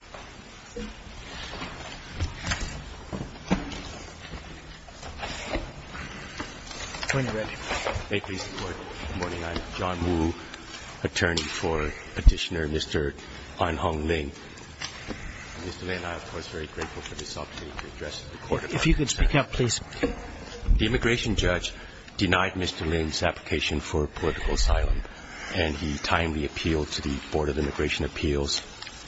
Good morning. I'm John Wu, attorney for Petitioner Mr. An Hong Ling. Mr. Ling and I are, of course, very grateful for this opportunity to address the Court of Arbitration. If you could speak up, please. The immigration judge denied Mr. Ling's application for political asylum, and he timely appealed to the Board of Immigration Appeals.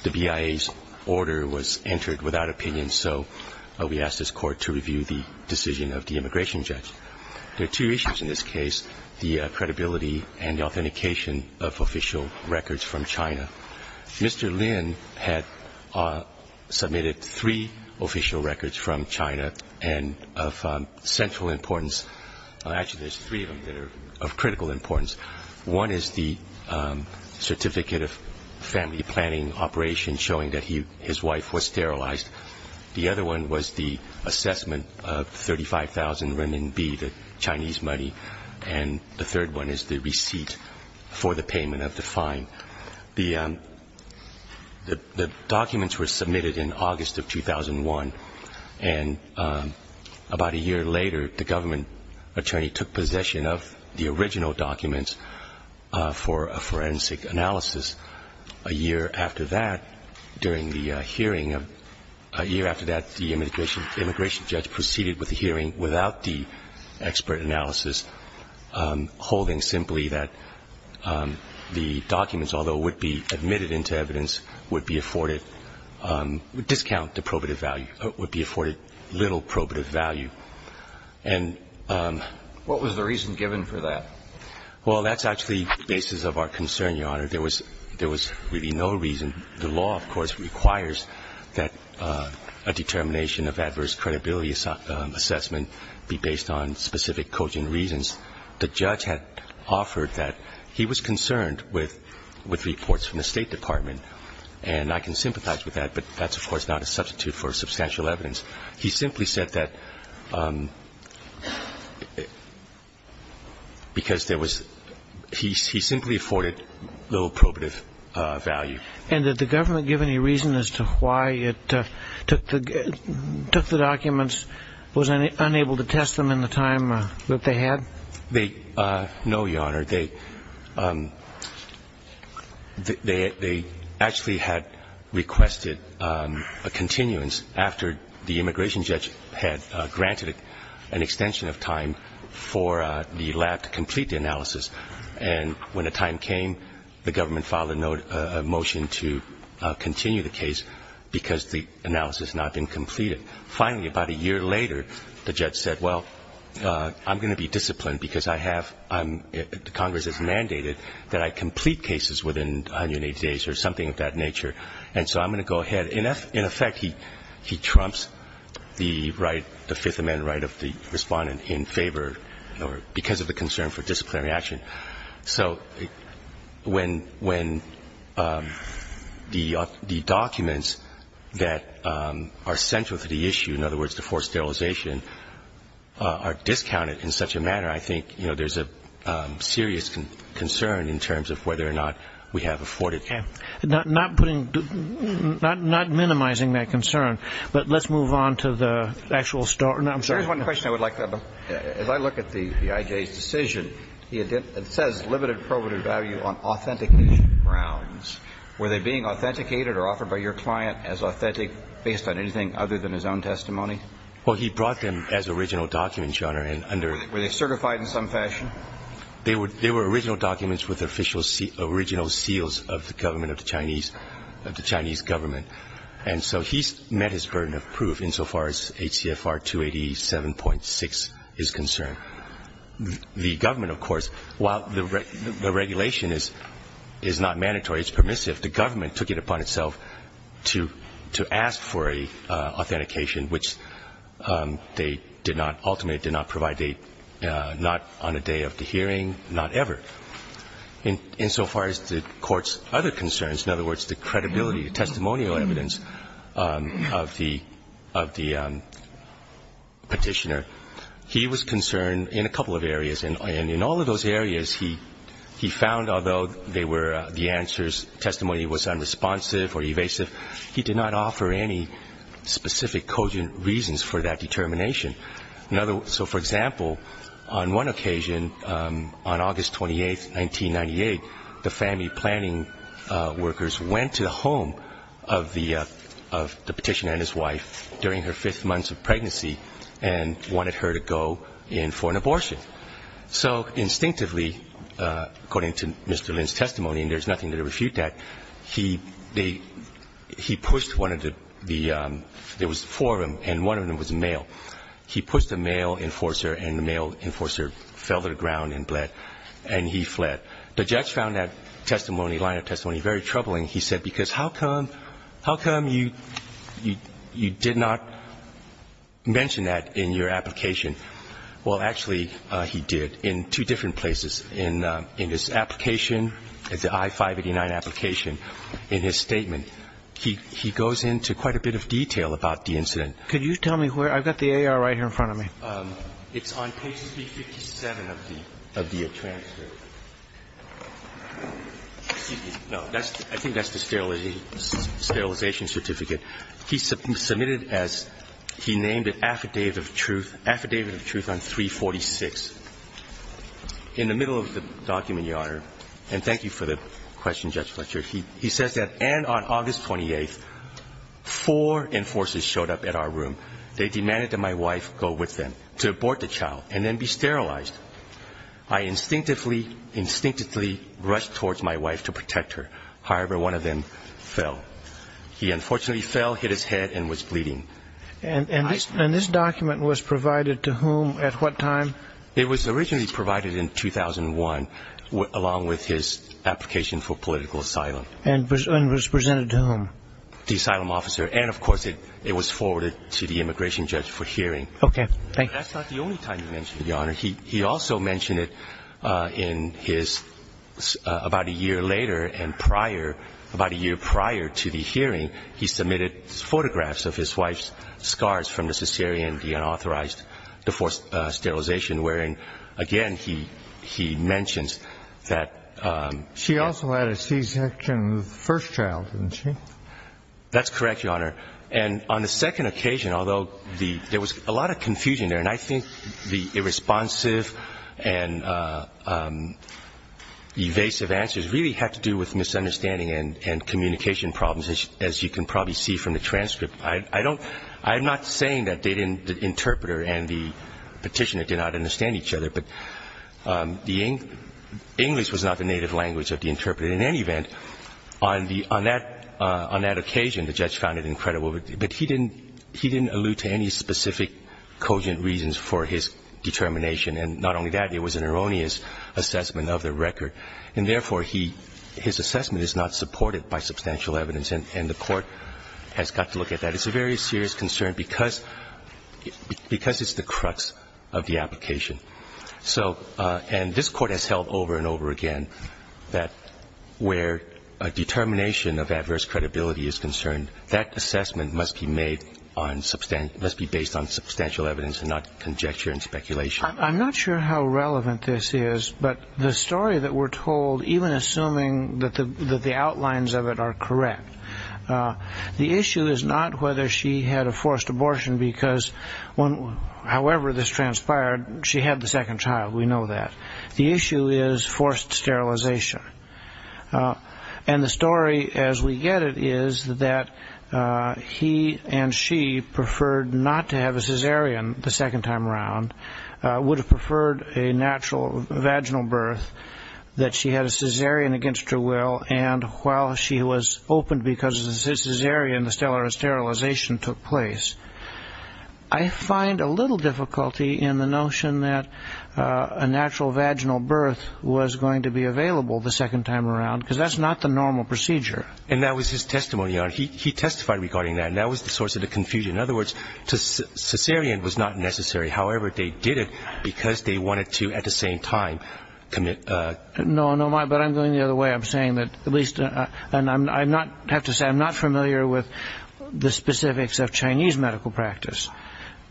The BIA's order was entered without opinion, so we asked this Court to review the decision of the immigration judge. There are two issues in this case, the credibility and the authentication of official records from China. Mr. Ling had submitted three official records from China, and of central importance there's three of them that are of critical importance. One is the certificate of family planning operation showing that his wife was sterilized. The other one was the assessment of 35,000 renminbi, the Chinese money, and the third one is the receipt for the payment of the fine. The documents were submitted in August of 2001, and about a year later, the government attorney took possession of the original documents for a forensic analysis. A year after that, during the hearing, a year after that, the immigration judge proceeded with the hearing without the expert analysis, holding simply that the documents, although would be admitted into evidence, would be afforded discount to probative value, would be afforded little probative value. And... What was the reason given for that? Well, that's actually the basis of our concern, Your Honor. There was really no reason. The law, of course, requires that a determination of adverse credibility assessment be based on specific cogent reasons. The judge had offered that he was concerned with reports from the State Department, and I can sympathize with that, but that's, of course, not a substitute for substantial evidence. He simply said that because there was he simply afforded little probative value. And did the government give any reason as to why it took the documents, was unable to test them in the time that they had? No, Your Honor. They actually had requested a continuance after the immigration judge had granted an extension of time for the lab to complete the analysis. And when the time came, the government filed a motion to continue the case because the analysis had not been completed. Finally, about a year later, the judge said, well, I'm going to be disciplined because I have, the Congress has mandated that I complete cases within 180 days or something of that nature. And so I'm going to go ahead. In effect, he trumps the right, the Fifth Amendment right of the respondent in favor because of the concern for disciplinary action. So when the documents that are central to the issue, in other words, the forced sterilization, are discounted in such a manner, I think, you know, there's a serious concern in terms of whether or not we have afforded. Okay. Not putting, not minimizing that concern, but let's move on to the actual story. Here's one question I would like to ask. As I look at the I.J.'s decision, it says limited probative value on authentic grounds. Were they being authenticated or offered by your client as authentic based on anything other than his own testimony? Well, he brought them as original documents, Your Honor. Were they certified in some fashion? They were original documents with the official original seals of the government of the Chinese government. And so he's met his burden of proof insofar as HCFR 287.6 is concerned. The government, of course, while the regulation is not mandatory, it's permissive, the government took it upon itself to ask for an authentication, which they did not, ultimately did not provide. Not on a day of the hearing, not ever. Insofar as the Court's other concerns, in other words, the credibility, the testimonial evidence of the Petitioner, he was concerned in a couple of areas. And in all of those areas, he found, although they were the answers, testimony was unresponsive or evasive, he did not offer any specific cogent reasons for that determination. So, for example, on one occasion, on August 28, 1998, the family planning workers went to the home of the Petitioner and his wife during her fifth month of pregnancy and wanted her to go in for an abortion. So instinctively, according to Mr. Lin's testimony, and there's nothing to refute that, he pushed one of the, there was four of them, and one of them was a male. He pushed the male enforcer, and the male enforcer fell to the ground and bled, and he fled. The judge found that testimony, line of testimony, very troubling. He said, because how come you did not mention that in your application? Well, actually, he did in two different places. In his application, the I-589 application, in his statement, he goes into quite a bit of detail about the incident. Could you tell me where, I've got the AR right here in front of me. It's on page 357 of the transcript. No, I think that's the sterilization certificate. He submitted as, he named it Affidavit of Truth, Affidavit of Truth on 346. In the middle of the document, Your Honor, and thank you for the question, Judge Fletcher, he says that, and on August 28th, four enforcers showed up at our room. They demanded that my wife go with them to abort the child and then be sterilized. I instinctively, instinctively rushed towards my wife to protect her. However, one of them fell. He unfortunately fell, hit his head, and was bleeding. And this document was provided to whom at what time? It was originally provided in 2001, along with his application for political asylum. And was presented to whom? The asylum officer. And, of course, it was forwarded to the immigration judge for hearing. Okay. Thank you. That's not the only time he mentioned it, Your Honor. He also mentioned it in his, about a year later and prior, about a year prior to the hearing, he submitted photographs of his wife's scars from the cesarean, the unauthorized, the forced sterilization, wherein, again, he mentions that. She also had a C-section of the first child, didn't she? That's correct, Your Honor. And on the second occasion, although there was a lot of confusion there, and I think the irresponsive and evasive answers really had to do with misunderstanding and communication problems, as you can probably see from the transcript. I'm not saying that the interpreter and the petitioner did not understand each other, but English was not the native language of the interpreter. In any event, on that occasion, the judge found it incredible. But he didn't allude to any specific cogent reasons for his determination, and not only that, it was an erroneous assessment of the record. And therefore, his assessment is not supported by substantial evidence, and the Court has got to look at that. It's a very serious concern because it's the crux of the application. And this Court has held over and over again that where a determination of adverse credibility is concerned, that assessment must be based on substantial evidence and not conjecture and speculation. I'm not sure how relevant this is, but the story that we're told, even assuming that the outlines of it are correct, the issue is not whether she had a forced abortion because, however this transpired, she had the second child, we know that. The issue is forced sterilization. And the story, as we get it, is that he and she preferred not to have a cesarean the second time around, would have preferred a natural vaginal birth, that she had a cesarean against her will, and while she was opened because of the cesarean, the sterilization took place. I find a little difficulty in the notion that a natural vaginal birth was going to be available. The second time around, because that's not the normal procedure. And that was his testimony. He testified regarding that, and that was the source of the confusion. In other words, cesarean was not necessary. However, they did it because they wanted to, at the same time, commit. No, but I'm going the other way. I'm saying that at least, and I have to say I'm not familiar with the specifics of Chinese medical practice,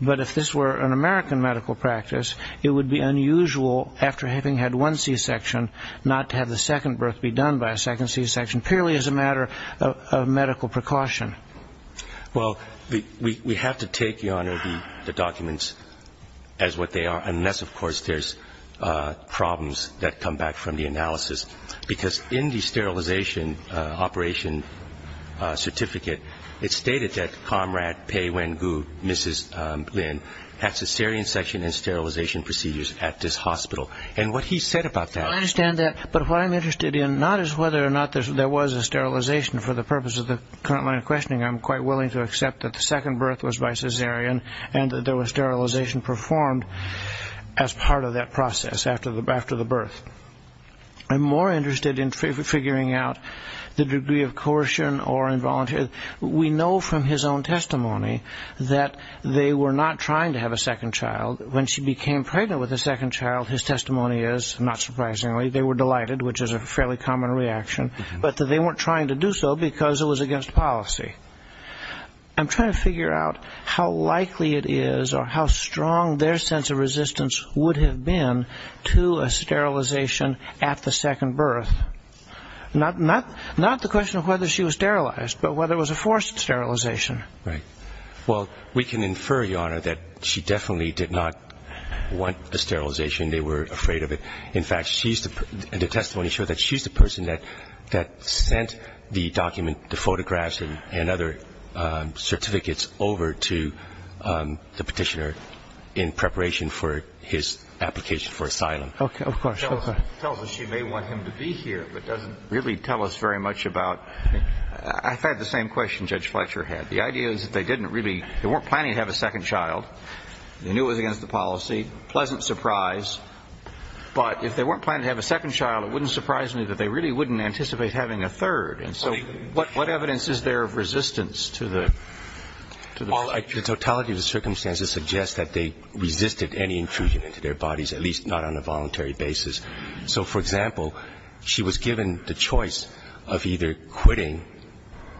but if this were an American medical practice, it would be unusual, after having had one c-section, not to have the second birth be done by a second c-section, purely as a matter of medical precaution. Well, we have to take, Your Honor, the documents as what they are, unless, of course, there's problems that come back from the analysis. Because in the sterilization operation certificate, it stated that comrade Pei Wen Gu, Mrs. Lin, had cesarean section and sterilization procedures at this hospital. And what he said about that- I understand that, but what I'm interested in, not as whether or not there was a sterilization for the purpose of the current line of questioning, I'm quite willing to accept that the second birth was by cesarean, and that there was sterilization performed as part of that process after the birth. I'm more interested in figuring out the degree of coercion or involuntary. We know from his own testimony that they were not trying to have a second child. When she became pregnant with a second child, his testimony is, not surprisingly, they were delighted, which is a fairly common reaction, but that they weren't trying to do so because it was against policy. I'm trying to figure out how likely it is, or how strong their sense of resistance would have been to a sterilization at the second birth. Not the question of whether she was sterilized, but whether it was a forced sterilization. Right. Well, we can infer, Your Honor, that she definitely did not want the sterilization. They were afraid of it. In fact, the testimony showed that she's the person that sent the document, the photographs and other certificates over to the petitioner in preparation for his application for asylum. Okay, of course. Tells us she may want him to be here, but doesn't really tell us very much about. I've had the same question Judge Fletcher had. The idea is that they didn't really, they weren't planning to have a second child. They knew it was against the policy, pleasant surprise. But if they weren't planning to have a second child, it wouldn't surprise me that they really wouldn't anticipate having a third. And so what evidence is there of resistance to the ---- Well, the totality of the circumstances suggests that they resisted any intrusion into their bodies, at least not on a voluntary basis. So, for example, she was given the choice of either quitting,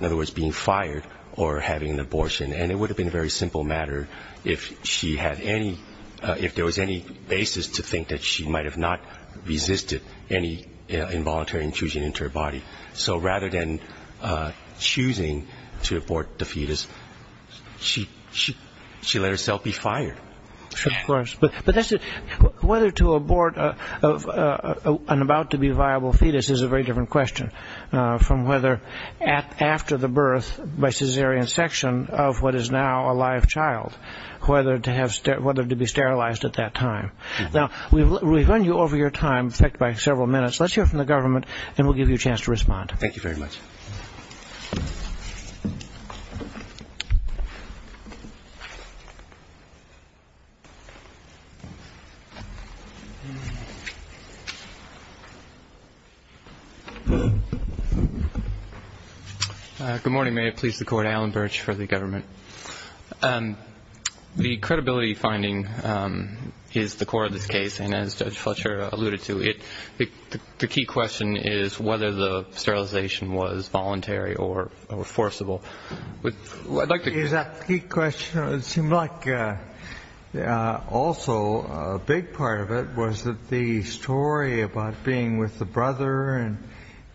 in other words being fired, or having an abortion. And it would have been a very simple matter if she had any, if there was any basis to think that she might have not resisted any involuntary intrusion into her body. So rather than choosing to abort the fetus, she let herself be fired. Of course. But whether to abort an about to be viable fetus is a very different question from whether after the birth by cesarean section of what is now a live child, whether to be sterilized at that time. Now, we've run you over your time, in fact by several minutes. Let's hear from the government and we'll give you a chance to respond. Thank you very much. Good morning. May it please the Court. Alan Birch for the government. The credibility finding is the core of this case. And as Judge Fletcher alluded to, the key question is whether the sterilization was voluntary or forcible. The key question, it seemed like also a big part of it was that the story about being with the brother and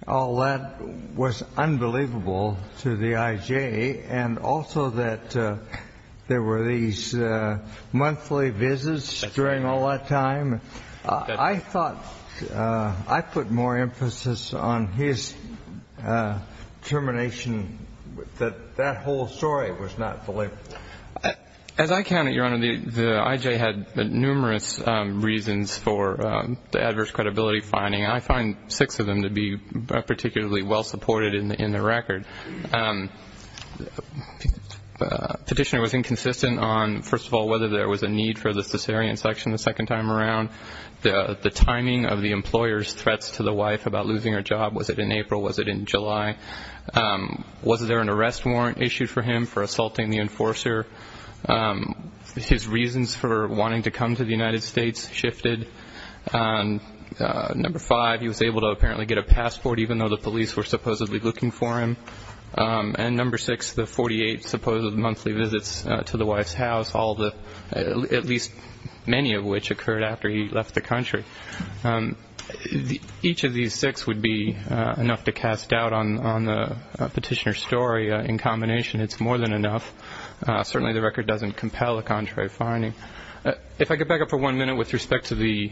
all that was unbelievable to the I.J., and also that there were these monthly visits during all that time. I thought I put more emphasis on his determination that that whole story was not believable. As I count it, Your Honor, the I.J. had numerous reasons for the adverse credibility finding. I find six of them to be particularly well supported in the record. Petitioner was inconsistent on, first of all, whether there was a need for the cesarean section the second time around. The timing of the employer's threats to the wife about losing her job, was it in April, was it in July? Was there an arrest warrant issued for him for assaulting the enforcer? His reasons for wanting to come to the United States shifted. Number five, he was able to apparently get a passport, even though the police were supposedly looking for him. And number six, the 48 supposed monthly visits to the wife's house, at least many of which occurred after he left the country. Each of these six would be enough to cast doubt on the petitioner's story. In combination, it's more than enough. Certainly the record doesn't compel a contrary finding. If I could back up for one minute with respect to the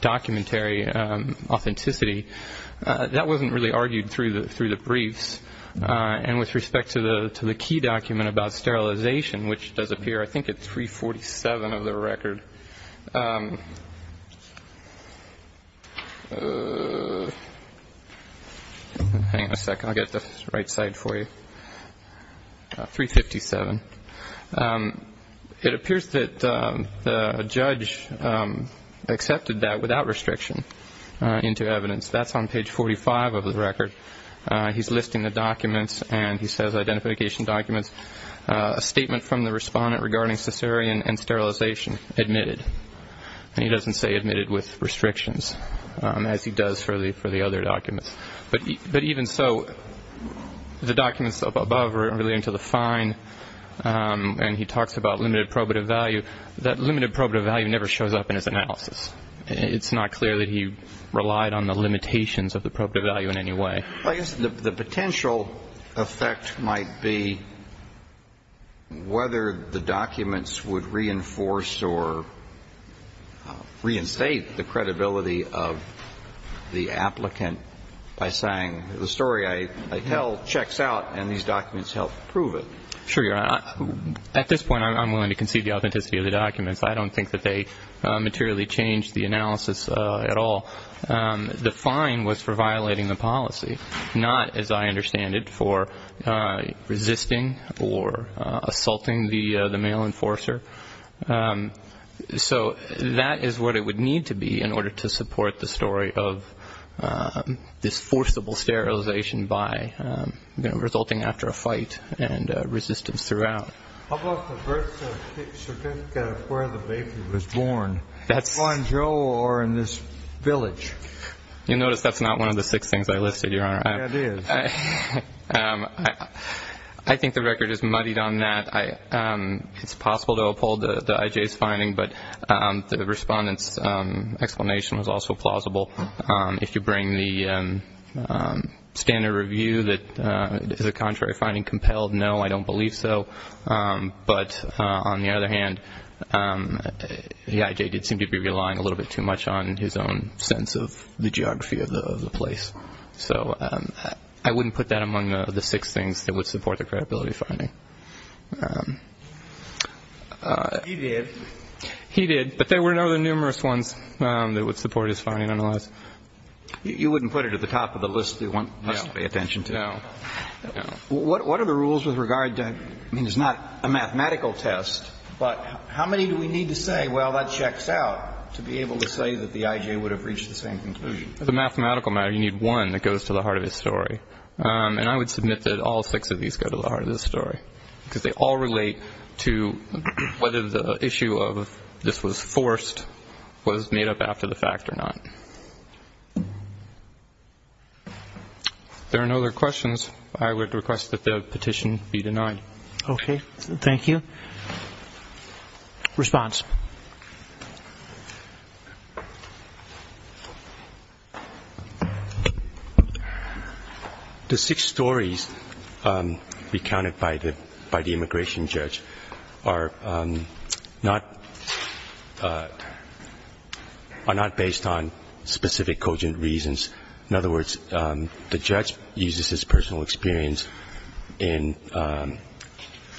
documentary authenticity, that wasn't really argued through the briefs. And with respect to the key document about sterilization, which does appear, I think, at 347 of the record. Hang on a second. I'll get the right side for you. 357. It appears that the judge accepted that without restriction into evidence. That's on page 45 of the record. He's listing the documents, and he says identification documents. A statement from the respondent regarding cesarean and sterilization, admitted. And he doesn't say admitted with restrictions, as he does for the other documents. But even so, the documents above are relating to the fine, and he talks about limited probative value. That limited probative value never shows up in his analysis. It's not clear that he relied on the limitations of the probative value in any way. Well, I guess the potential effect might be whether the documents would reinforce or reinstate the credibility of the applicant by saying the story I tell checks out, and these documents help prove it. Sure, Your Honor. At this point, I'm willing to concede the authenticity of the documents. I don't think that they materially changed the analysis at all. The fine was for violating the policy, not, as I understand it, for resisting or assaulting the male enforcer. So that is what it would need to be in order to support the story of this forcible sterilization by resulting after a fight and resistance throughout. How about the birth certificate of where the baby was born? That's not one of the six things I listed, Your Honor. I think the record is muddied on that. It's possible to uphold the IJ's finding, but the Respondent's explanation was also plausible. If you bring the standard review, is the contrary finding compelled? No, I don't believe so. But on the other hand, the IJ did seem to be relying a little bit too much on his own sense of the geography of the place. So I wouldn't put that among the six things that would support the credibility finding. He did. He did, but there were other numerous ones that would support his finding, otherwise. You wouldn't put it at the top of the list that you want us to pay attention to? No. What are the rules with regard to, I mean, it's not a mathematical test, but how many do we need to say, well, that checks out to be able to say that the IJ would have reached the same conclusion? As a mathematical matter, you need one that goes to the heart of his story. And I would submit that all six of these go to the heart of his story, because they all relate to whether the issue of this was forced was made up after the fact or not. There are no other questions. I would request that the petition be denied. Thank you. Response. The six stories recounted by the immigration judge are not based on specific cogent reasons. In other words, the judge uses his personal experience in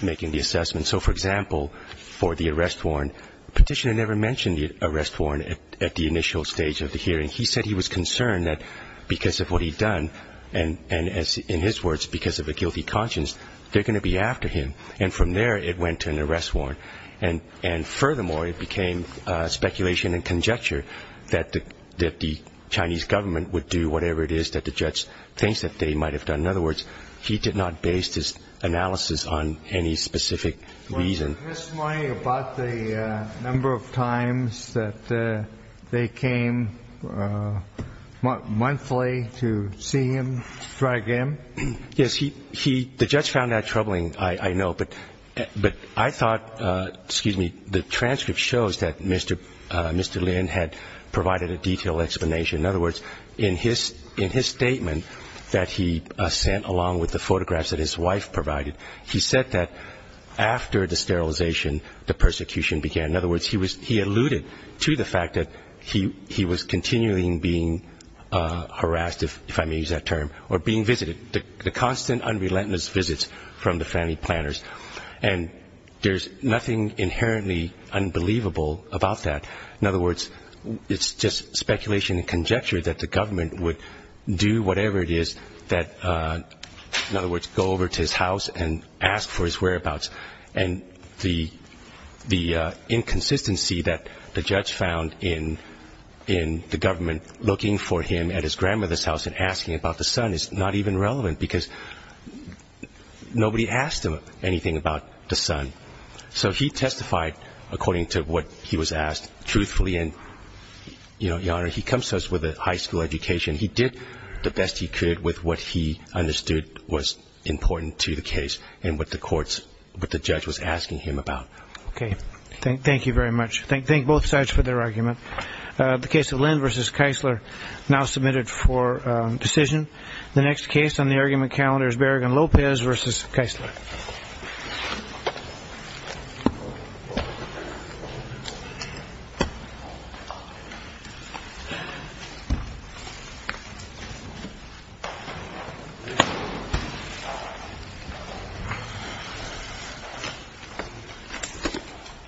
making the assessment. And so, for example, for the arrest warrant, petitioner never mentioned the arrest warrant at the initial stage of the hearing. He said he was concerned that because of what he'd done, and in his words, because of a guilty conscience, they're going to be after him. And from there it went to an arrest warrant. And furthermore, it became speculation and conjecture that the Chinese government would do whatever it is that the judge thinks that they might have done. In other words, he did not base this analysis on any specific reason. Was the testimony about the number of times that they came monthly to see him, to try to get him? Yes. The judge found that troubling, I know. But I thought, excuse me, the transcript shows that Mr. Lin had provided a detailed explanation. In other words, in his statement that he sent along with the photographs that his wife provided, he said that after the sterilization, the persecution began. In other words, he alluded to the fact that he was continually being harassed, if I may use that term, or being visited. The constant, unrelentless visits from the family planners. And there's nothing inherently unbelievable about that. In other words, it's just speculation and conjecture that the government would do whatever it is that, in other words, go over to his house and ask for his whereabouts. And the inconsistency that the judge found in the government looking for him at his grandmother's house and asking about the son is not even relevant because nobody asked him anything about the son. So he testified according to what he was asked, truthfully. And, Your Honor, he comes to us with a high school education. He did the best he could with what he understood was important to the case and what the judge was asking him about. Okay. Thank you very much. Thank both sides for their argument. The case of Lin v. Keisler now submitted for decision. The next case on the argument calendar is Berrigan-Lopez v. Keisler.